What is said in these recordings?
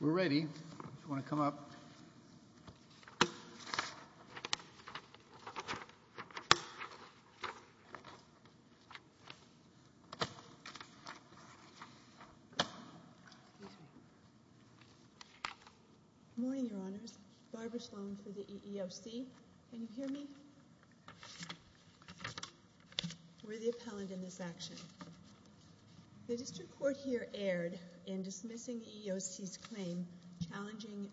We're ready, if you want to come up. Good morning, Your Honors. Barbara Sloan for the EEOC. Can you hear me? We're the appellant in this action. The district court here erred in dismissing the EEOC's claim challenging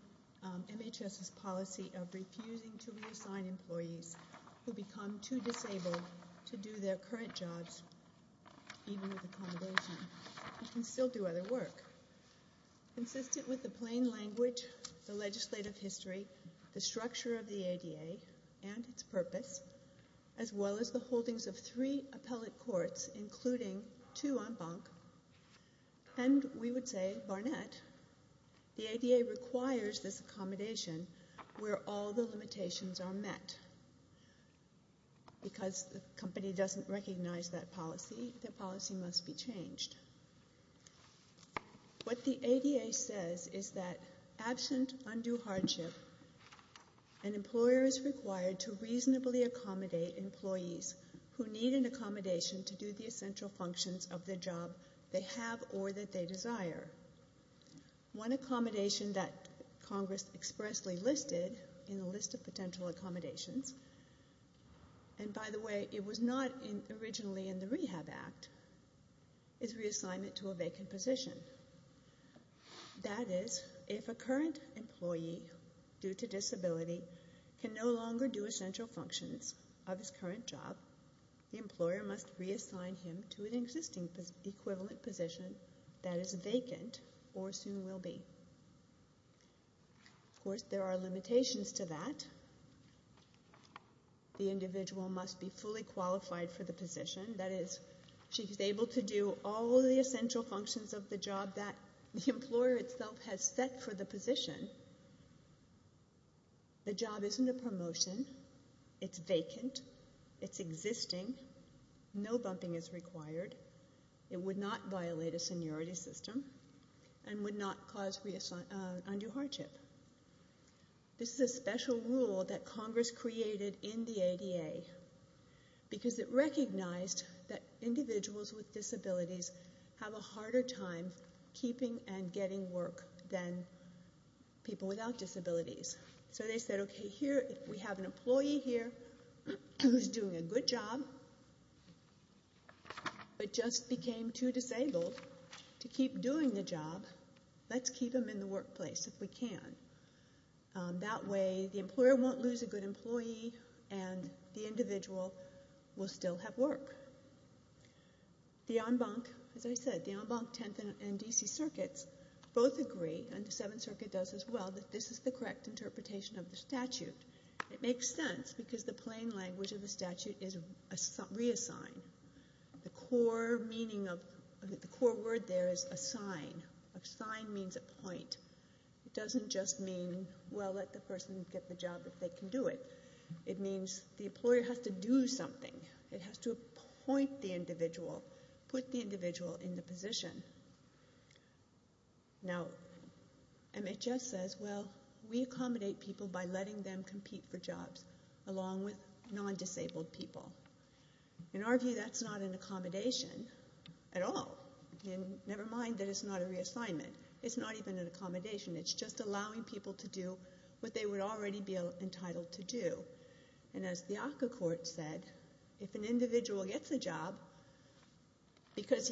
MHS's policy of refusing to reassign employees who become too disabled to do their current jobs, even with accommodation. You can still do other work. Consistent with the plain language, the legislative history, the structure of the ADA, and its purpose, as well as the holdings of three appellate courts, including two en banc, and we would say Barnett, the ADA requires this accommodation where all the limitations are met. Because the company doesn't recognize that policy, the policy must be changed. What the ADA says is that absent undue hardship, an employer is required to reasonably accommodate employees who need an accommodation to do the essential functions of the job they have or that they desire. One accommodation that Congress expressly listed in the list of potential accommodations, and by the way, it was not originally in the Rehab Act, is reassignment to a vacant position. That is, if a current employee, due to disability, can no longer do essential functions of his current job, the employer must reassign him to an existing equivalent position that is vacant or soon will be. Of course, there are limitations to that. The individual must be fully qualified for the position. That is, she's able to do all the essential functions of the job that the employer itself has set for the position. The job isn't a promotion, it's vacant, it's existing, no bumping is required, it would not violate a seniority system, and would not cause undue hardship. This is a special rule that Congress created in the ADA because it recognized that individuals with disabilities have a harder time keeping and getting work than people without disabilities. So they said, okay, here, we have an employee here who's doing a good job, but just became too disabled to keep doing the job, let's keep him in the workplace if we can. That way, the employer won't lose a good employee, and the individual will still have work. The en banc, as I said, the en banc, 10th, and DC circuits both agree, and the 7th Circuit does as well, that this is the correct interpretation of the statute. It makes sense because the plain language of the statute is reassign. The core meaning of, the core word there is assign. Assign means appoint. It doesn't just mean, well, let the person get the job if they can do it. It means the employer has to do something. It has to appoint the individual, put the individual in the position. Now, MHS says, well, we accommodate people by letting them compete for jobs along with non-disabled people. In our view, that's not an accommodation at all. Never mind that it's not a reassignment. It's not even an accommodation. It's just allowing people to do what they would already be entitled to do. And as the ACCA court said, if an individual gets a job because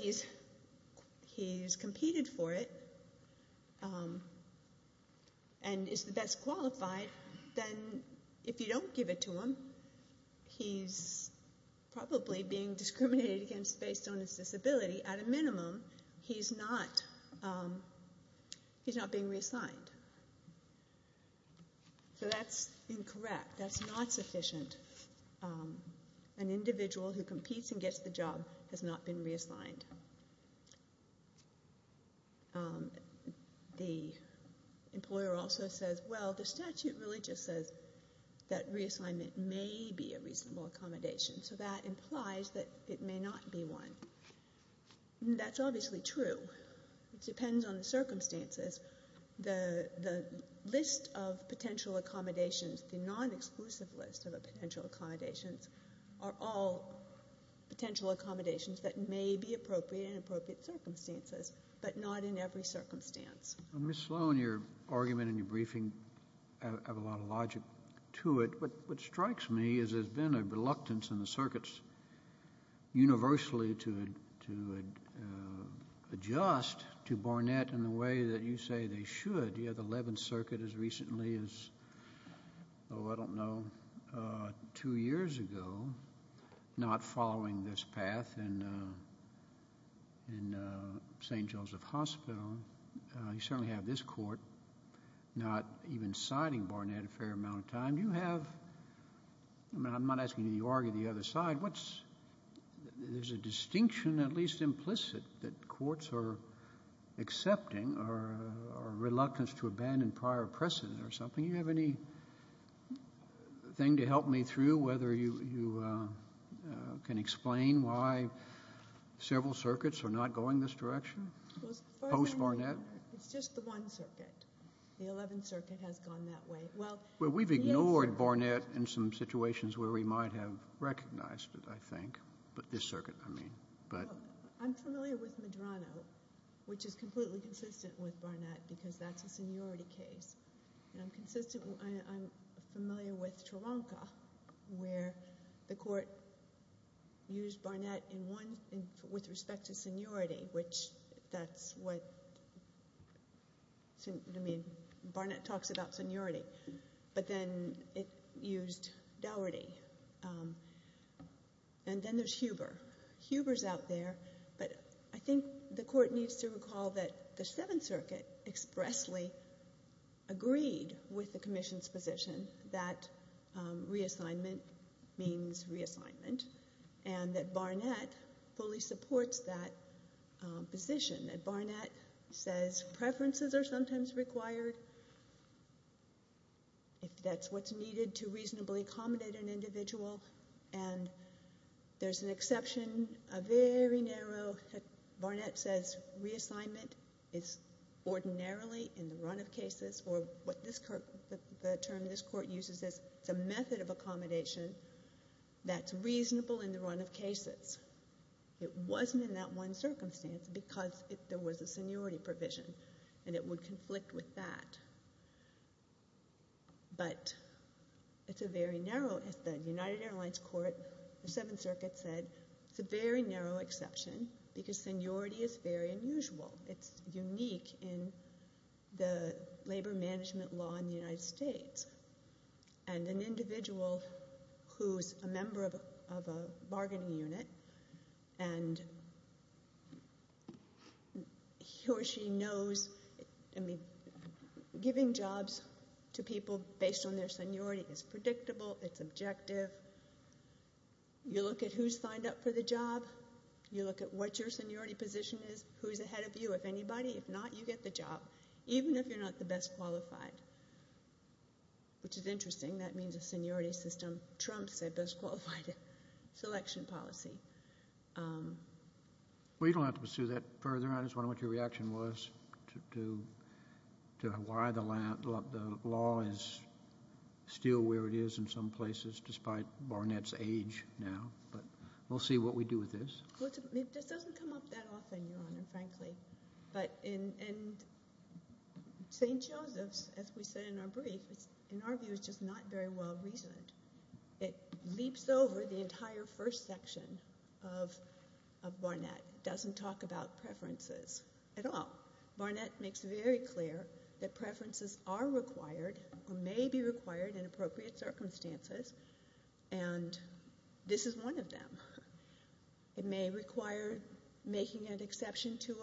he's competed for it and is the best qualified, then if you don't give it to him, he's probably being discriminated against based on his disability. At a minimum, he's not being reassigned. So that's incorrect. That's not sufficient. An individual who competes and gets the job has not been reassigned. The employer also says, well, the statute really just says that reassignment may be a reasonable accommodation. So that implies that it may not be one. That's obviously true. It depends on the circumstances. The list of potential accommodations, the non-exclusive list of potential accommodations are all potential accommodations that may be appropriate in appropriate circumstances, but not in every circumstance. Kennedy. Ms. Sloan, your argument in your briefing has a lot of logic to it. What strikes me is there's been a reluctance in the circuits universally to adjust to Barnett in the way that you say they should. You have the Eleventh Circuit as recently as, oh, I don't know, two years ago not following this path in St. Joseph Hospital. You certainly have this court not even citing Barnett a fair amount of time. I'm not asking you to argue the other side. There's a distinction, at least implicit, that courts are accepting or are reluctant to abandon prior precedent or something. Do you have anything to help me through, whether you can explain why several circuits are not going this direction post-Barnett? It's just the One Circuit. The Eleventh Circuit has gone that way. Well, we've ignored Barnett in some situations where we might have recognized it, I think. But this circuit, I mean. I'm familiar with Medrano, which is completely consistent with Barnett because that's a seniority case. And I'm familiar with Tronca, where the court used Barnett with respect to seniority, which that's what, I mean, Barnett talks about seniority. But then it used Dougherty. And then there's Huber. Huber's out there. But I think the court needs to recall that the Seventh Circuit expressly agreed with the Commission's position that reassignment means reassignment and that Barnett fully supports that position, that Barnett says preferences are sometimes required, if that's what's needed to reasonably accommodate an individual. And there's an exception, a very narrow, that Barnett says reassignment is ordinarily in the run of cases, or what this court, the term this court uses is it's a method of accommodation that's reasonable in the run of cases. It wasn't in that one circumstance because there was a seniority provision and it would conflict with that. But it's a very narrow, the United Airlines court, the Seventh Circuit said it's a very narrow exception because seniority is very unusual. It's unique in the labor management law in the United States. And an individual who's a member of a bargaining unit and he or she knows, I mean, giving jobs to people based on their seniority is predictable, it's objective. You look at who's signed up for the job, you look at what your seniority position is, who's ahead of you. If anybody, if not, you get the job, even if you're not the best qualified, which is interesting. That means a seniority system. Trump said best qualified selection policy. Well, you don't have to pursue that further. I just wondered what your reaction was to why the law is still where it is in some places despite Barnett's age now. But we'll see what we do with this. This doesn't come up that often, Your Honor, frankly. But in St. Joseph's, as we said in our brief, in our view, it's just not very well reasoned. It leaps over the entire first section of Barnett. It doesn't talk about preferences at all. Barnett makes it very clear that preferences are required or may be required in appropriate circumstances, and this is one of them. It may require making an exception to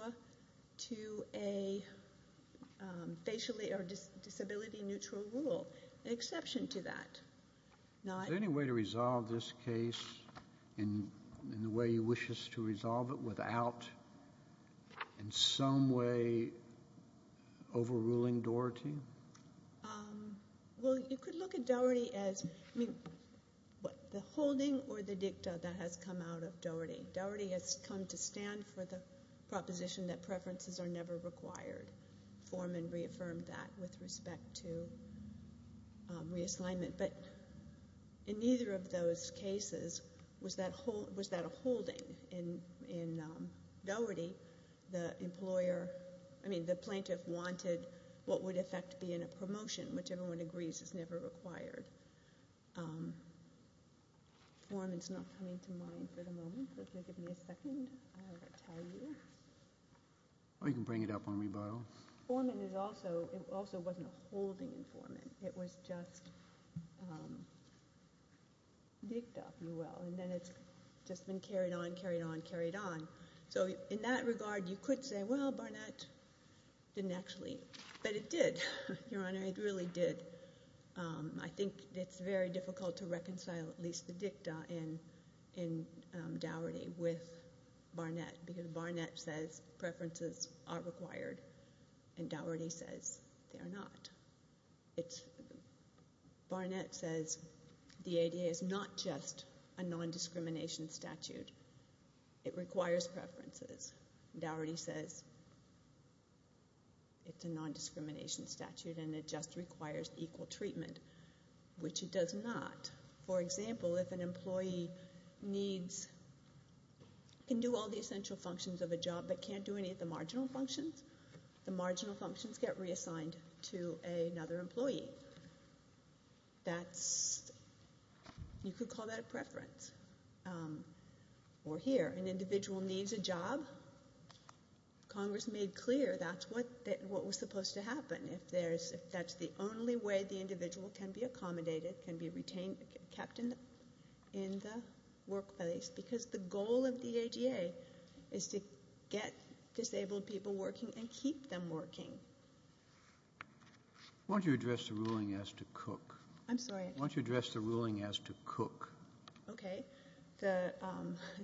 a disability-neutral rule, an exception to that. Is there any way to resolve this case in the way you wish us to resolve it without in some way overruling Doherty? Well, you could look at Doherty as the holding or the dicta that has come out of Doherty. Doherty has come to stand for the proposition that preferences are never required. Foreman reaffirmed that with respect to reassignment. But in neither of those cases was that a holding. In Doherty, the employer, I mean, the plaintiff wanted what would affect being a promotion, which everyone agrees is never required. Foreman is not coming to mind for the moment. If you'll give me a second, I will tell you. Or you can bring it up on rebuttal. Foreman is also, it also wasn't a holding in Foreman. It was just dicta, if you will. And then it's just been carried on, carried on, carried on. So in that regard, you could say, well, Barnett didn't actually. But it did, Your Honor. It really did. I think it's very difficult to reconcile at least the dicta in Doherty with Barnett because Barnett says preferences are required and Doherty says they're not. Barnett says the ADA is not just a nondiscrimination statute. It requires preferences. Doherty says it's a nondiscrimination statute and it just requires equal treatment, which it does not. For example, if an employee needs, can do all the essential functions of a job but can't do any of the marginal functions, the marginal functions get reassigned to another employee. That's, you could call that a preference. Or here, an individual needs a job. Congress made clear that's what was supposed to happen. That's the only way the individual can be accommodated, can be retained, kept in the workplace because the goal of the ADA is to get disabled people working and keep them working. Why don't you address the ruling as to cook? I'm sorry? Why don't you address the ruling as to cook? Okay.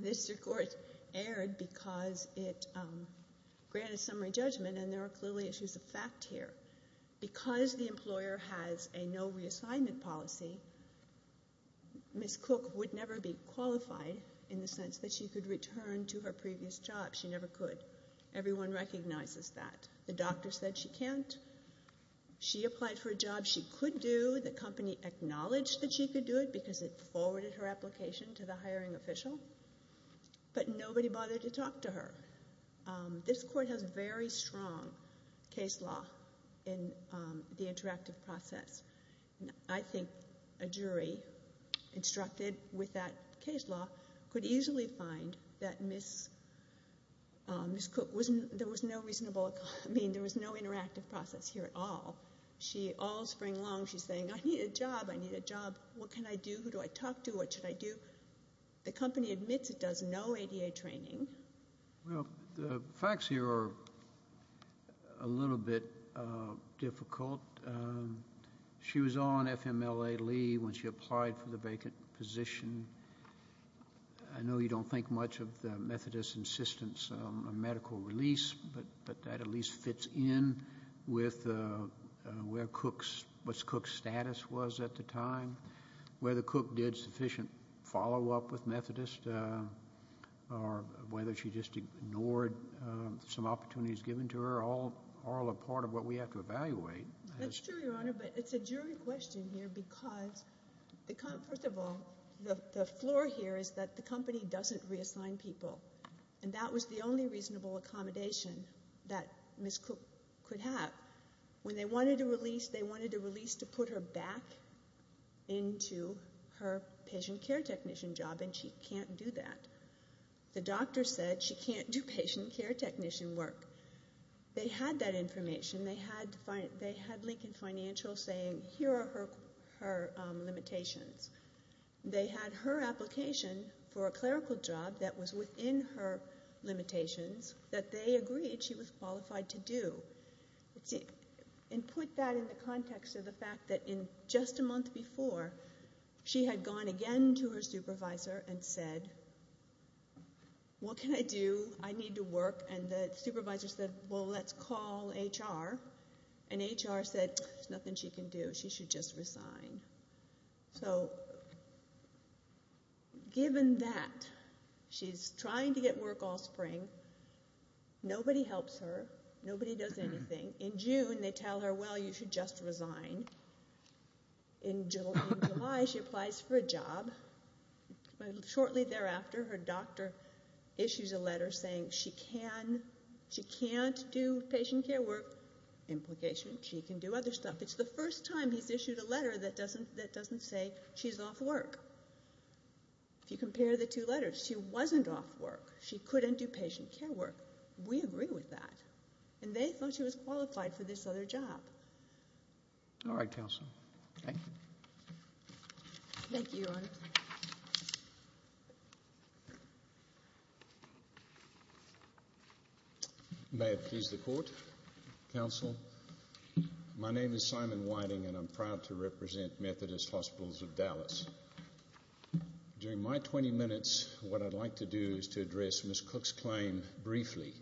This report aired because it granted summary judgment and there are clearly issues of fact here. Because the employer has a no reassignment policy, Ms. Cook would never be qualified in the sense that she could return to her previous job. She never could. Everyone recognizes that. The doctor said she can't. She applied for a job she could do. The company acknowledged that she could do it because it forwarded her application to the hiring official. But nobody bothered to talk to her. This court has very strong case law in the interactive process. I think a jury instructed with that case law could easily find that Ms. Cook was, there was no reasonable, I mean, there was no interactive process here at all. All spring long she's saying, I need a job, I need a job. What can I do? Who do I talk to? What should I do? The company admits it does no ADA training. Well, the facts here are a little bit difficult. She was on FMLA-LEE when she applied for the vacant position. I know you don't think much of the Methodist insistence on medical release, but that at least fits in with where Cook's, what Cook's status was at the time, whether Cook did sufficient follow-up with Methodist, or whether she just ignored some opportunities given to her, are all a part of what we have to evaluate. That's true, Your Honor, but it's a jury question here because, first of all, the floor here is that the company doesn't reassign people. And that was the only reasonable accommodation that Ms. Cook could have. When they wanted to release, they wanted to release to put her back into her patient care technician job, and she can't do that. The doctor said she can't do patient care technician work. They had that information. They had Lincoln Financial saying, here are her limitations. They had her application for a clerical job that was within her limitations that they agreed she was qualified to do. And put that in the context of the fact that in just a month before, she had gone again to her supervisor and said, what can I do? I need to work. And the supervisor said, well, let's call HR. And HR said, there's nothing she can do. She should just resign. So given that she's trying to get work all spring, nobody helps her. Nobody does anything. In June, they tell her, well, you should just resign. In July, she applies for a job. Shortly thereafter, her doctor issues a letter saying she can't do patient care work. Implication, she can do other stuff. It's the first time he's issued a letter that doesn't say she's off work. If you compare the two letters, she wasn't off work. She couldn't do patient care work. We agree with that. And they thought she was qualified for this other job. All right, Counsel. Thank you. Thank you, Your Honor. May it please the Court. Counsel. My name is Simon Whiting, and I'm proud to represent Methodist Hospitals of Dallas. During my 20 minutes, what I'd like to do is to address Ms. Cook's claim briefly,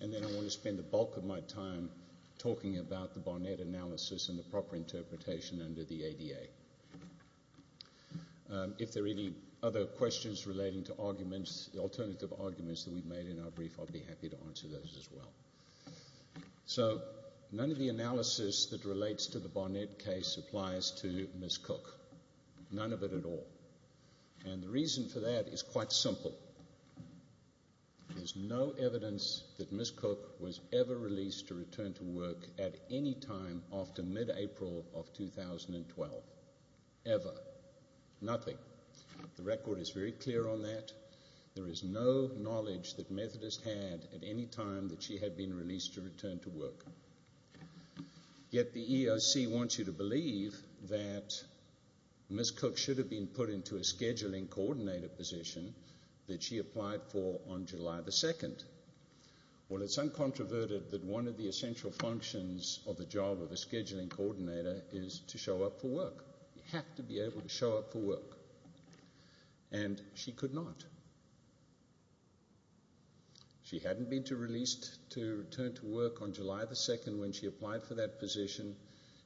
and then I want to spend the bulk of my time talking about the Barnett analysis and the proper interpretation under the ADA. If there are any other questions relating to arguments, the alternative arguments that we've made in our brief, I'll be happy to answer those as well. So, none of the analysis that relates to the Barnett case applies to Ms. Cook. None of it at all. And the reason for that is quite simple. There's no evidence that Ms. Cook was ever released to return to work at any time after mid-April of 2012. Ever. Nothing. The record is very clear on that. There is no knowledge that Methodist had at any time that she had been released to return to work. Yet the EOC wants you to believe that Ms. Cook should have been put into a scheduling coordinator position that she applied for on July 2. Well, it's uncontroverted that one of the essential functions of the job of a scheduling coordinator is to show up for work. You have to be able to show up for work. And she could not. She hadn't been released to return to work on July 2 when she applied for that position.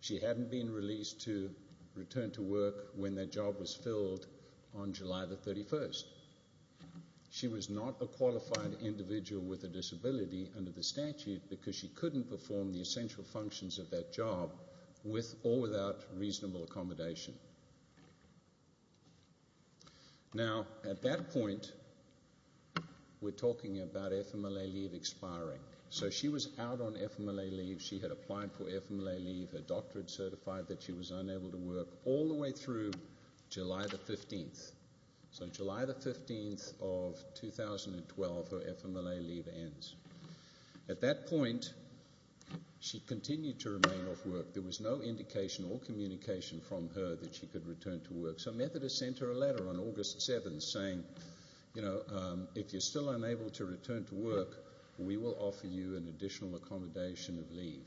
She hadn't been released to return to work when that job was filled on July 31. She was not a qualified individual with a disability under the statute because she couldn't perform the essential functions of that job with or without reasonable accommodation. Now, at that point, we're talking about FMLA leave expiring. So she was out on FMLA leave. She had applied for FMLA leave. Her doctor had certified that she was unable to work all the way through July 15. So July 15 of 2012, her FMLA leave ends. At that point, she continued to remain off work. There was no indication or communication from her that she could return to work. So Methodist sent her a letter on August 7 saying, you know, if you're still unable to return to work, we will offer you an additional accommodation of leave.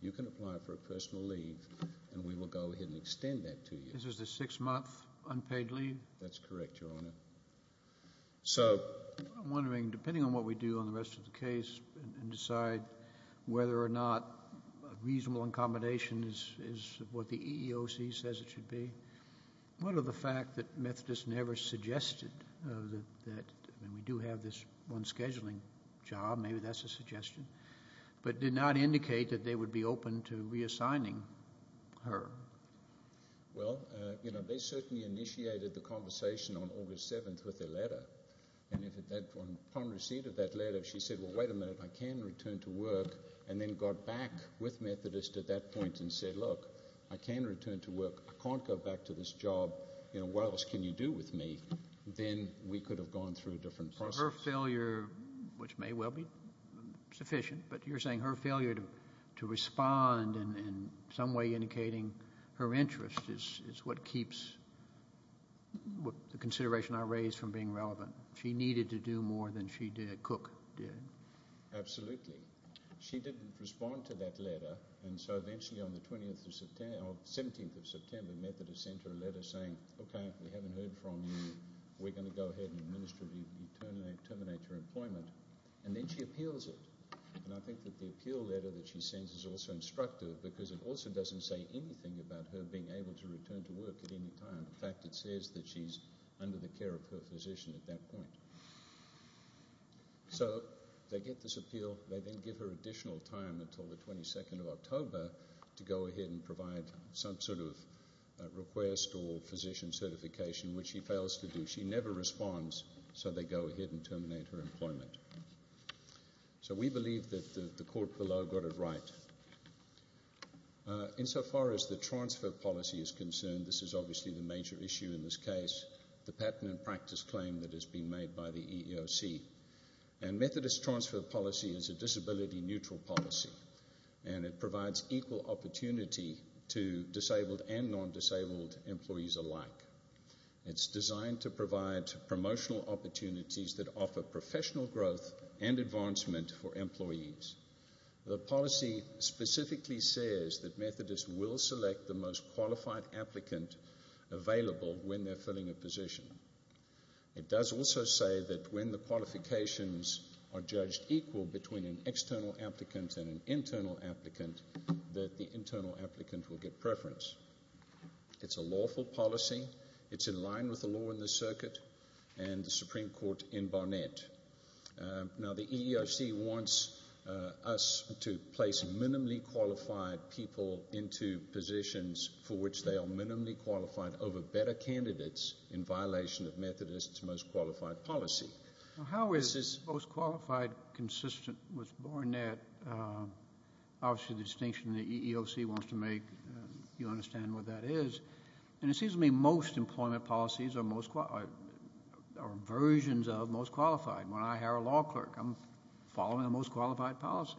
You can apply for a personal leave, and we will go ahead and extend that to you. This is the six-month unpaid leave? That's correct, Your Honor. So... I'm wondering, depending on what we do on the rest of the case and decide whether or not reasonable accommodation is what the EEOC says it should be, what of the fact that Methodist never suggested that, and we do have this one scheduling job, maybe that's a suggestion, but did not indicate that they would be open to reassigning her? Well, you know, they certainly initiated the conversation on August 7 with a letter, and upon receipt of that letter, she said, well, wait a minute, I can return to work, and then got back with Methodist at that point and said, look, I can return to work, I can't go back to this job, you know, what else can you do with me? Then we could have gone through a different process. So her failure, which may well be sufficient, but you're saying her failure to respond in some way indicating her interest is what keeps the consideration I raised from being relevant. She needed to do more than she did, Cook did. Absolutely. She didn't respond to that letter, and so eventually on the 17th of September, Methodist sent her a letter saying, OK, we haven't heard from you, we're going to go ahead and terminate your employment, and then she appeals it. And I think that the appeal letter that she sends is also instructive because it also doesn't say anything about her being able to return to work at any time. In fact, it says that she's under the care of her physician at that point. So they get this appeal, they then give her additional time until the 22nd of October to go ahead and provide some sort of request or physician certification, which she fails to do. She never responds, so they go ahead and terminate her employment. So we believe that the court below got it right. Insofar as the transfer policy is concerned, this is obviously the major issue in this case, the pattern and practice claim that has been made by the EEOC. And Methodist transfer policy is a disability-neutral policy, and it provides equal opportunity to disabled and non-disabled employees alike. It's designed to provide promotional opportunities that offer professional growth and advancement for employees. The policy specifically says that Methodists will select the most qualified applicant available when they're filling a position. It does also say that when the qualifications are judged equal between an external applicant and an internal applicant, that the internal applicant will get preference. It's a lawful policy. It's in line with the law in the circuit, and the Supreme Court in Barnett. Now, the EEOC wants us to place minimally qualified people into positions for which they are minimally qualified over better candidates in violation of Methodist's most qualified policy. How is most qualified consistent with Barnett? Obviously, the distinction the EEOC wants to make, you understand what that is. And it seems to me most employment policies are versions of most qualified. When I hire a law clerk, I'm following a most qualified policy.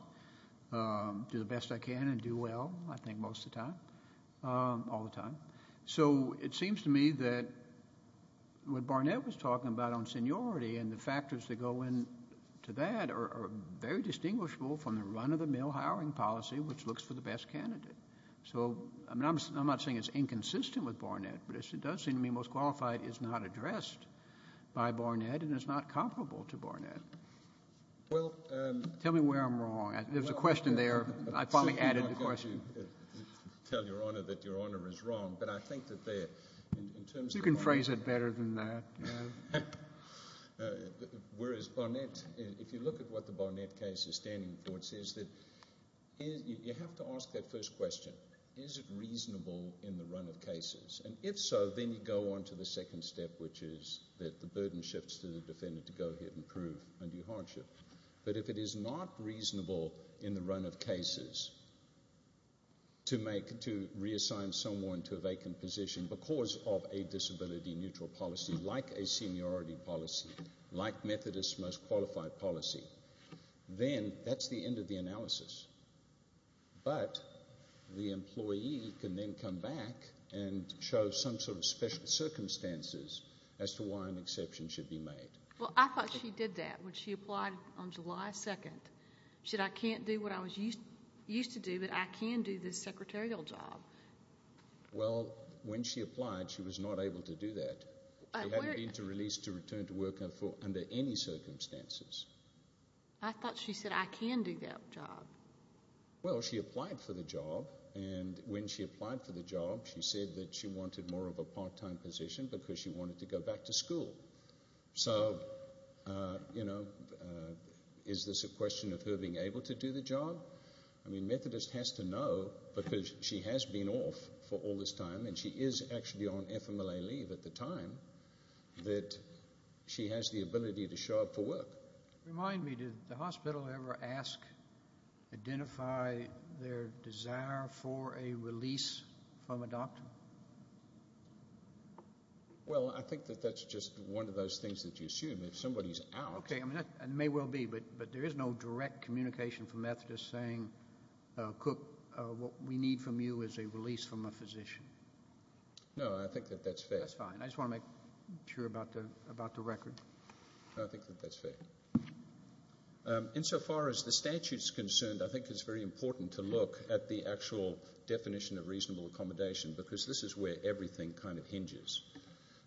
Do the best I can and do well, I think, most of the time. All the time. So it seems to me that what Barnett was talking about on seniority and the factors that go into that are very distinguishable from the run-of-the-mill hiring policy which looks for the best candidate. So I'm not saying it's inconsistent with Barnett, but it does seem to me most qualified is not addressed by Barnett and is not comparable to Barnett. Tell me where I'm wrong. There was a question there. I finally added the question. I can't tell Your Honour that Your Honour is wrong, but I think that there, in terms of... You can phrase it better than that. Whereas Barnett, if you look at what the Barnett case is standing for, it says that you have to ask that first question. Is it reasonable in the run of cases? And if so, then you go on to the second step, which is that the burden shifts to the defendant to go ahead and prove under your hardship. But if it is not reasonable in the run of cases to reassign someone to a vacant position because of a disability-neutral policy, like a seniority policy, like Methodist's most qualified policy, then that's the end of the analysis. But the employee can then come back and show some sort of special circumstances as to why an exception should be made. Well, I thought she did that when she applied on July 2nd. She said, I can't do what I used to do, but I can do this secretarial job. Well, when she applied, she was not able to do that. She hadn't been released to return to work under any circumstances. I thought she said, I can do that job. Well, she applied for the job, and when she applied for the job, she said that she wanted more of a part-time position because she wanted to go back to school. So, you know, is this a question of her being able to do the job? I mean, Methodist has to know, because she has been off for all this time, and she is actually on FMLA leave at the time, that she has the ability to show up for work. Remind me, did the hospital ever ask, identify their desire for a release from a doctor? Well, I think that that's just one of those things that you assume. If somebody is out. Okay, it may well be, but there is no direct communication from Methodist saying, Cook, what we need from you is a release from a physician. No, I think that that's fair. That's fine. I just want to make sure about the record. I think that that's fair. Insofar as the statute is concerned, I think it's very important to look at the actual definition of reasonable accommodation, because this is where everything kind of hinges.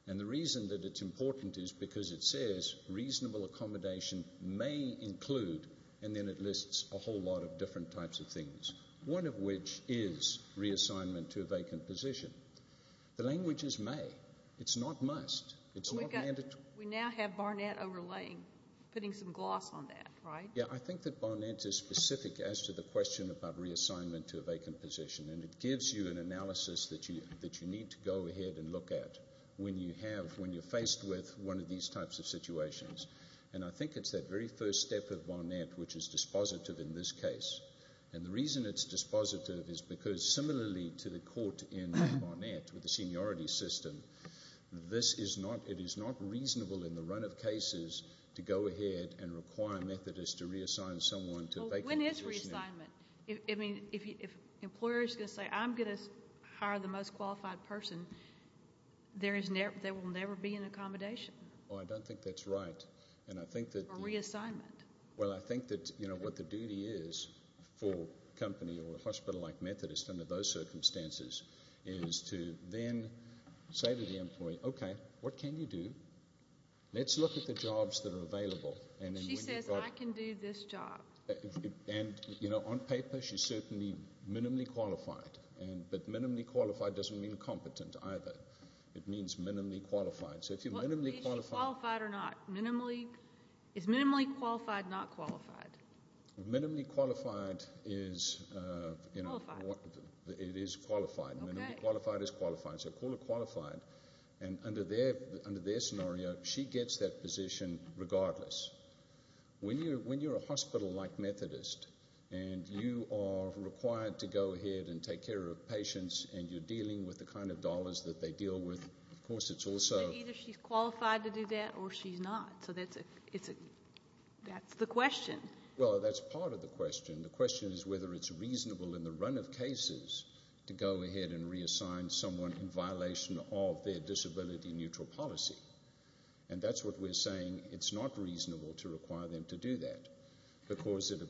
And the reason that it's important is because it says, reasonable accommodation may include, and then it lists a whole lot of different types of things, one of which is reassignment to a vacant position. The language is may. It's not must. We now have Barnett overlaying, putting some gloss on that, right? Yeah, I think that Barnett is specific as to the question about reassignment to a vacant position, and it gives you an analysis that you need to go ahead and look at when you're faced with one of these types of situations. And I think it's that very first step of Barnett which is dispositive in this case. And the reason it's dispositive is because, similarly to the court in Barnett with the seniority system, this is not reasonable in the run of cases to go ahead and require a Methodist to reassign someone to a vacant position. When is reassignment? I mean, if an employer is going to say, I'm going to hire the most qualified person, there will never be an accommodation. Oh, I don't think that's right. Or reassignment. Well, I think that what the duty is for a company or a hospital like Methodist under those circumstances is to then say to the employee, okay, what can you do? Let's look at the jobs that are available. She says, I can do this job. And, you know, on paper she's certainly minimally qualified. But minimally qualified doesn't mean competent either. It means minimally qualified. Is she qualified or not? Is minimally qualified not qualified? Minimally qualified is... Qualified. It is qualified. Okay. Minimally qualified is qualified. So call her qualified. And under their scenario, she gets that position regardless. When you're a hospital like Methodist and you are required to go ahead and take care of patients and you're dealing with the kind of dollars that they deal with, of course it's also... Either she's qualified to do that or she's not. So that's the question. Well, that's part of the question. The question is whether it's reasonable in the run of cases to go ahead and reassign someone in violation of their disability neutral policy. And that's what we're saying. It's not reasonable to require them to do that because it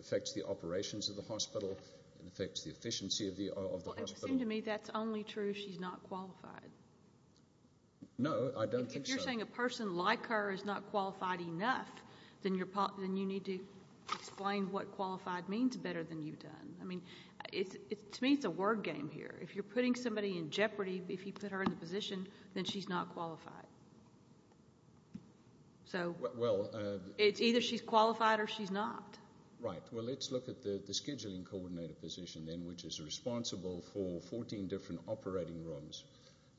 affects the operations of the hospital. It affects the efficiency of the hospital. Well, it seems to me that's only true if she's not qualified. No, I don't think so. If you're saying a person like her is not qualified enough, then you need to explain what qualified means better than you've done. To me, it's a word game here. If you're putting somebody in jeopardy, if you put her in the position, then she's not qualified. So it's either she's qualified or she's not. Right. Well, let's look at the scheduling coordinator position, which is responsible for 14 different operating rooms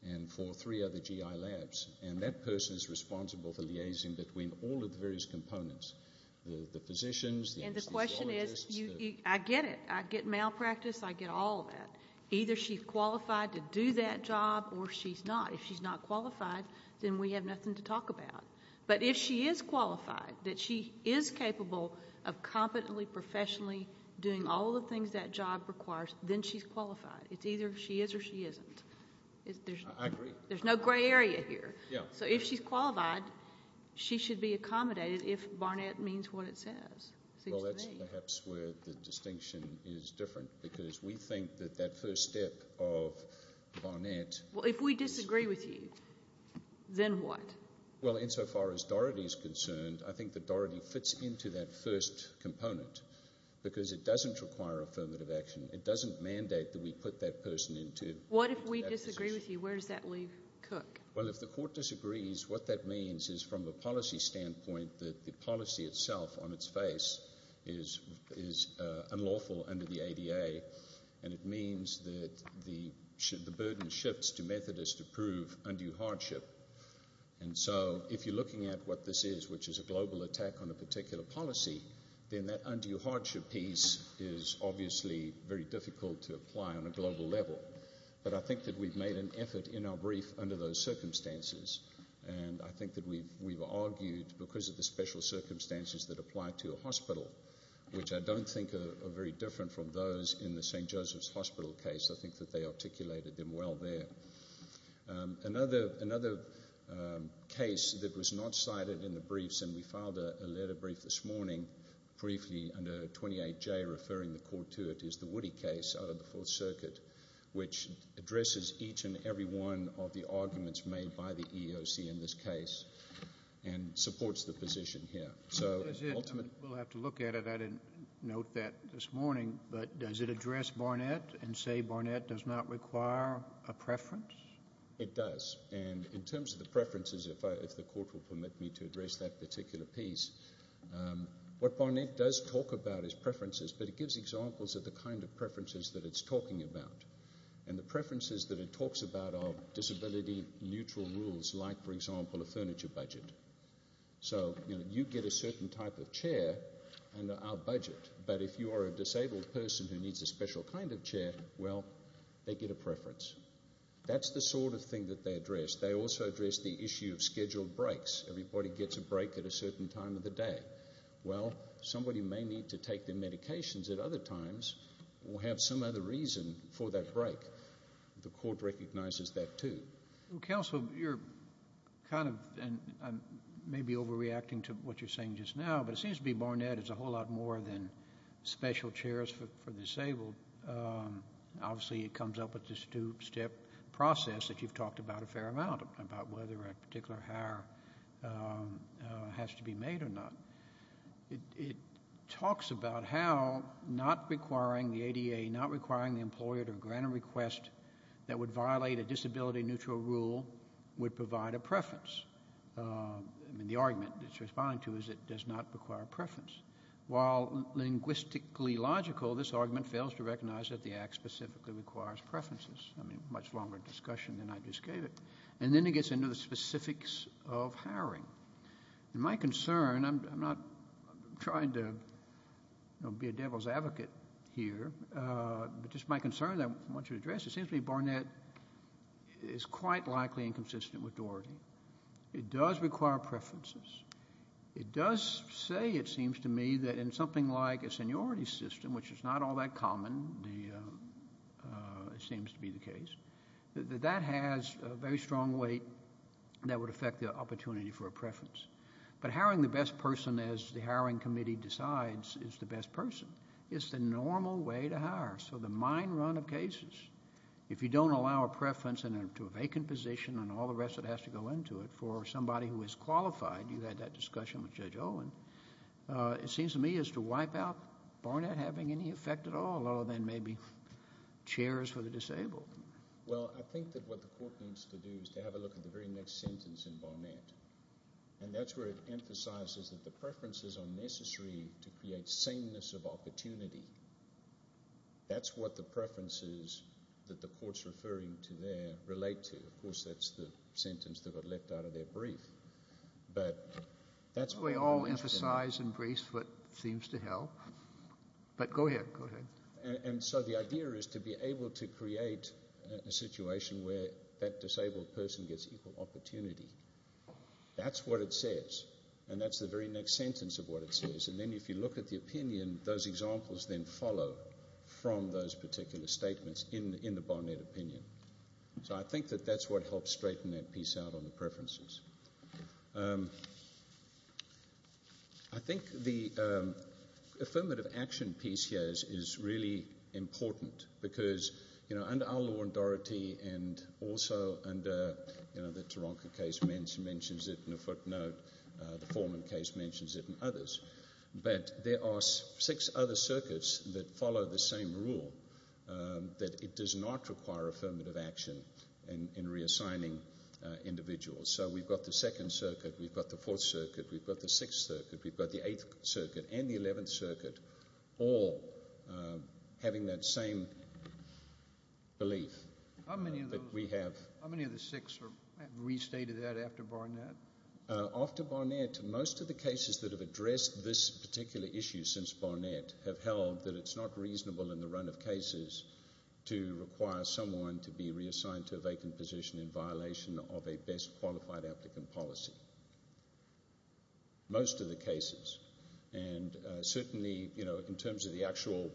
and for three other GI labs. And that person is responsible for liaising between all of the various components, the physicians, the physiologists. And the question is, I get it. I get malpractice. I get all of that. Either she's qualified to do that job or she's not. If she's not qualified, then we have nothing to talk about. But if she is qualified, that she is capable of competently, professionally doing all the things that job requires, then she's qualified. It's either she is or she isn't. I agree. There's no gray area here. So if she's qualified, she should be accommodated if Barnett means what it says. Well, that's perhaps where the distinction is different because we think that that first step of Barnett... Well, if we disagree with you, then what? Well, insofar as Doherty is concerned, I think that Doherty fits into that first component because it doesn't require affirmative action. It doesn't mandate that we put that person into that position. What if we disagree with you? Where does that leave Cook? Well, if the court disagrees, what that means is from a policy standpoint that the policy itself on its face is unlawful under the ADA, and it means that the burden shifts to Methodists to prove undue hardship. And so if you're looking at what this is, which is a global attack on a particular policy, then that undue hardship piece is obviously very difficult to apply on a global level. But I think that we've made an effort in our brief under those circumstances, and I think that we've argued because of the special circumstances that apply to a hospital, which I don't think are very different from those in the St. Joseph's Hospital case. I think that they articulated them well there. Another case that was not cited in the briefs, and we filed a letter brief this morning, briefly under 28J referring the court to it, is the Woody case out of the Fourth Circuit, which addresses each and every one of the arguments made by the EEOC in this case and supports the position here. We'll have to look at it. I didn't note that this morning. But does it address Barnett and say Barnett does not require a preference? It does. And in terms of the preferences, if the court will permit me to address that particular piece, what Barnett does talk about is preferences, but it gives examples of the kind of preferences that it's talking about. And the preferences that it talks about are disability-neutral rules, like, for example, a furniture budget. So you get a certain type of chair under our budget, but if you are a disabled person who needs a special kind of chair, well, they get a preference. That's the sort of thing that they address. They also address the issue of scheduled breaks. Everybody gets a break at a certain time of the day. Well, somebody may need to take their medications at other times or have some other reason for that break. The court recognizes that too. Counsel, you're kind of... And I may be overreacting to what you're saying just now, but it seems to be Barnett is a whole lot more than special chairs for disabled. Obviously, it comes up with this two-step process that you've talked about a fair amount, about whether a particular hire has to be made or not. It talks about how not requiring the ADA, not requiring the employer to grant a request that would violate a disability-neutral rule would provide a preference. I mean, the argument it's responding to is it does not require a preference. While linguistically logical, this argument fails to recognize that the Act specifically requires preferences. I mean, much longer discussion than I just gave it. And then it gets into the specifics of hiring. My concern, I'm not trying to be a devil's advocate here, but just my concern that I want to address, it seems to me Barnett is quite likely inconsistent with Doherty. It does require preferences. It does say, it seems to me, that in something like a seniority system, which is not all that common, it seems to be the case, that that has a very strong weight that would affect the opportunity for a preference. But hiring the best person, as the hiring committee decides, is the best person. It's the normal way to hire. So the mine run of cases, if you don't allow a preference to a vacant position and all the rest that has to go into it for somebody who is qualified, you had that discussion with Judge Owen, it seems to me is to wipe out Barnett having any effect at all other than maybe chairs for the disabled. Well, I think that what the Court needs to do is to have a look at the very next sentence in Barnett. And that's where it emphasizes that the preferences are necessary to create sameness of opportunity. That's what the preferences that the Court's referring to there relate to. Of course, that's the sentence that got left out of their brief. We all emphasize and brace what seems to help. But go ahead, go ahead. And so the idea is to be able to create a situation where that disabled person gets equal opportunity. That's what it says. And that's the very next sentence of what it says. And then if you look at the opinion, those examples then follow from those particular statements in the Barnett opinion. So I think that that's what helps straighten that piece out on the preferences. I think the affirmative action piece here is really important because, you know, under our law in Doherty and also under, you know, the Taronga case mentions it in a footnote, the Foreman case mentions it and others, but there are six other circuits that follow the same rule that it does not require affirmative action in reassigning individuals. So we've got the Second Circuit, we've got the Fourth Circuit, we've got the Sixth Circuit, we've got the Eighth Circuit and the Eleventh Circuit all having that same belief that we have. How many of the six have restated that after Barnett? After Barnett, most of the cases that have addressed this particular issue since Barnett have held that it's not reasonable in the run of cases to require someone to be reassigned to a vacant position in violation of a best qualified applicant policy. Most of the cases. And certainly, you know, in terms of the actual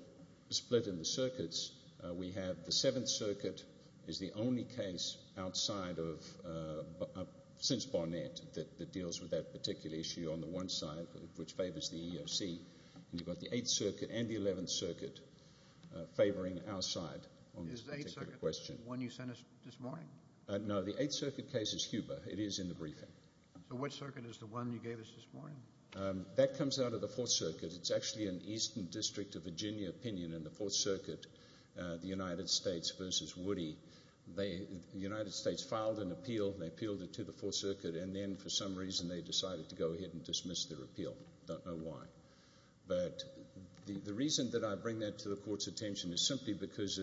split in the circuits, we have the Seventh Circuit is the only case outside of, since Barnett, that deals with that particular issue on the one side which favours the EEOC, and you've got the Eighth Circuit and the Eleventh Circuit favouring our side on this particular question. Is the Eighth Circuit the one you sent us this morning? No, the Eighth Circuit case is Huber. It is in the briefing. So which circuit is the one you gave us this morning? That comes out of the Fourth Circuit. It's actually an Eastern District of Virginia opinion in the Fourth Circuit, the United States versus Woody. The United States filed an appeal, they appealed it to the Fourth Circuit, and then for some reason they decided to go ahead and dismiss their appeal. Don't know why. But the reason that I bring that to the Court's attention is simply because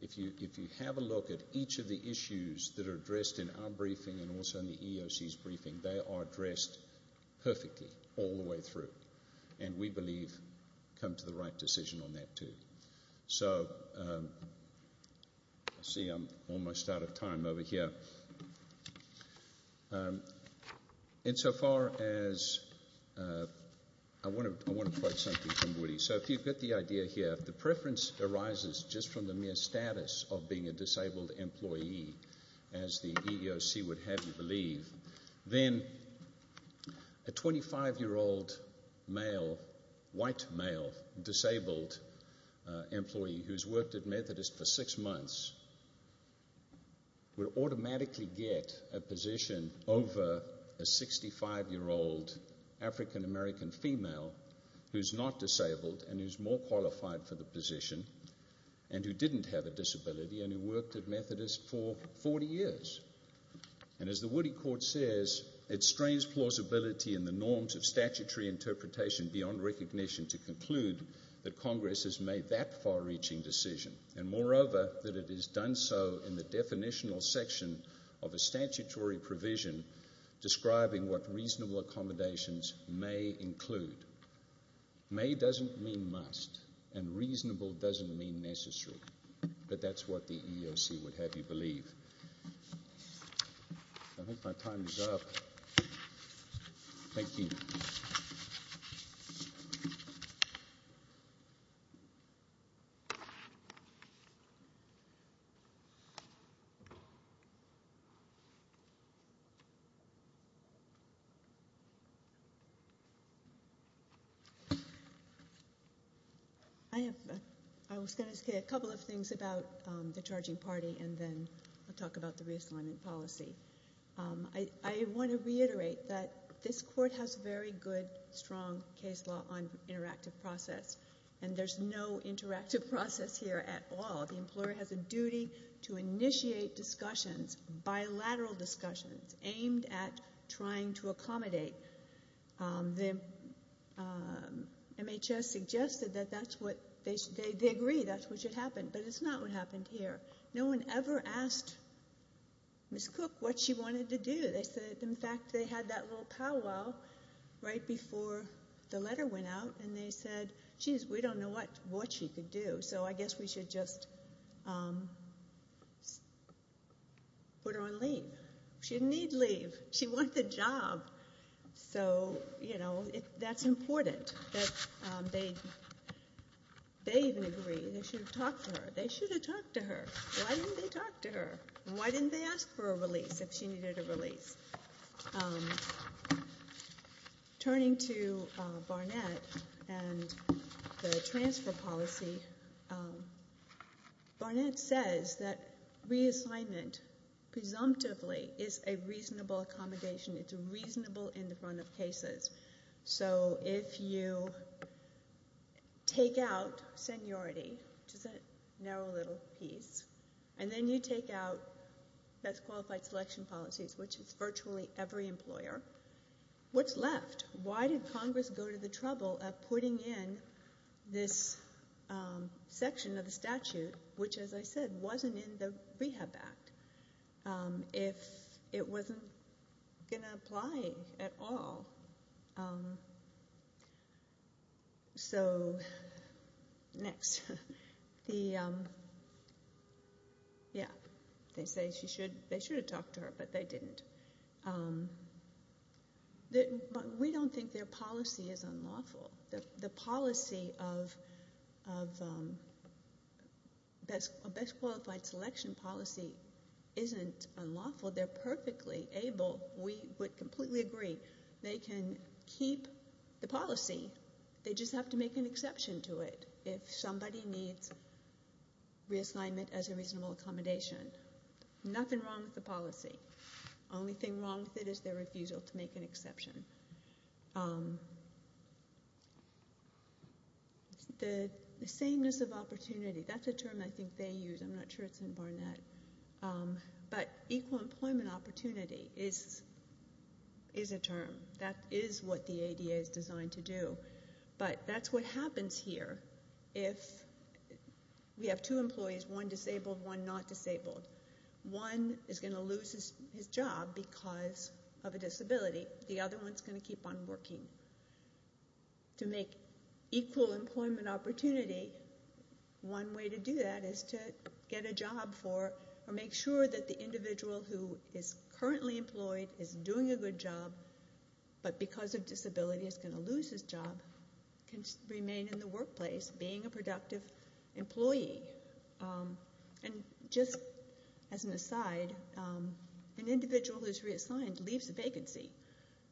if you have a look at each of the issues that are addressed in our briefing and also in the EEOC's briefing, they are addressed perfectly all the way through, and we believe come to the right decision on that too. So, I see I'm almost out of time over here. Insofar as... I want to quote something from Woody. So if you get the idea here, if the preference arises just from the mere status of being a disabled employee, as the EEOC would happily believe, then a 25-year-old male, white male, disabled employee who's worked at Methodist for six months would automatically get a position over a 65-year-old African-American female who's not disabled and who's more qualified for the position and who didn't have a disability and who worked at Methodist for 40 years. And as the Woody Court says, it strains plausibility in the norms of statutory interpretation beyond recognition to conclude that Congress has made that far-reaching decision and, moreover, that it has done so in the definitional section of a statutory provision describing what reasonable accommodations may include. May doesn't mean must, and reasonable doesn't mean necessary, but that's what the EEOC would happily believe. I think my time is up. Thank you. Thank you. I was going to say a couple of things about the charging party and then I'll talk about the reassignment policy. I want to reiterate that this Court has very good, strong case law on interactive process, and there's no interactive process here at all. The employer has a duty to initiate discussions, bilateral discussions, aimed at trying to accommodate. MHS suggested that that's what... They agree that's what should happen, but it's not what happened here. No one ever asked Ms. Cook what she wanted to do. They said, in fact, they had that little powwow right before the letter went out, and they said, geez, we don't know what she could do, so I guess we should just put her on leave. She didn't need leave. She wants a job. So, you know, that's important that they even agree. They should have talked to her. They should have talked to her. Why didn't they talk to her? Why didn't they ask for a release if she needed a release? Turning to Barnett and the transfer policy, Barnett says that reassignment, presumptively, is a reasonable accommodation. It's reasonable in the front of cases. So if you take out seniority... which is a narrow little piece... and then you take out best qualified selection policies, which is virtually every employer, what's left? Why did Congress go to the trouble of putting in this section of the statute, which, as I said, wasn't in the Rehab Act, if it wasn't going to apply at all? So, next. Yeah. They say they should have talked to her, but they didn't. We don't think their policy is unlawful. The policy of best qualified selection policy isn't unlawful. They're perfectly able. We would completely agree. They can keep the policy. They just have to make an exception to it if somebody needs reassignment as a reasonable accommodation. Nothing wrong with the policy. The only thing wrong with it is their refusal to make an exception. The sameness of opportunity, that's a term I think they use. I'm not sure it's in Barnett. But equal employment opportunity is a term. That is what the ADA is designed to do. But that's what happens here if we have two employees, one disabled, one not disabled. One is going to lose his job because of a disability. The other one is going to keep on working. To make equal employment opportunity, one way to do that is to get a job for or make sure that the individual who is currently employed is doing a good job, but because of disability is going to lose his job, can remain in the workplace being a productive employee. And just as an aside, an individual who is reassigned leaves a vacancy.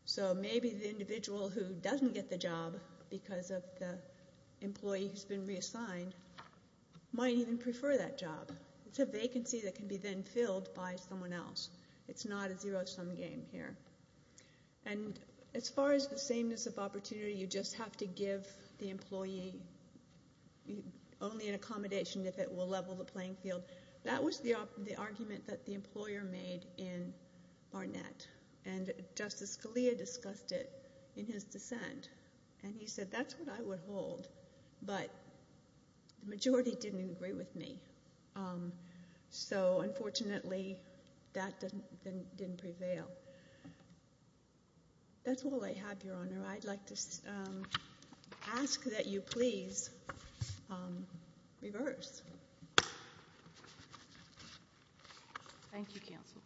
So maybe the individual who doesn't get the job because of the employee who's been reassigned might even prefer that job. It's a vacancy that can be then filled by someone else. It's not a zero-sum game here. And as far as the sameness of opportunity, you just have to give the employee only an accommodation if it will level the playing field, that was the argument that the employer made in Barnett. And Justice Scalia discussed it in his dissent. And he said, that's what I would hold, but the majority didn't agree with me. So unfortunately, that didn't prevail. That's all I have, Your Honor. I'd like to ask that you please reverse. Thank you, counsel.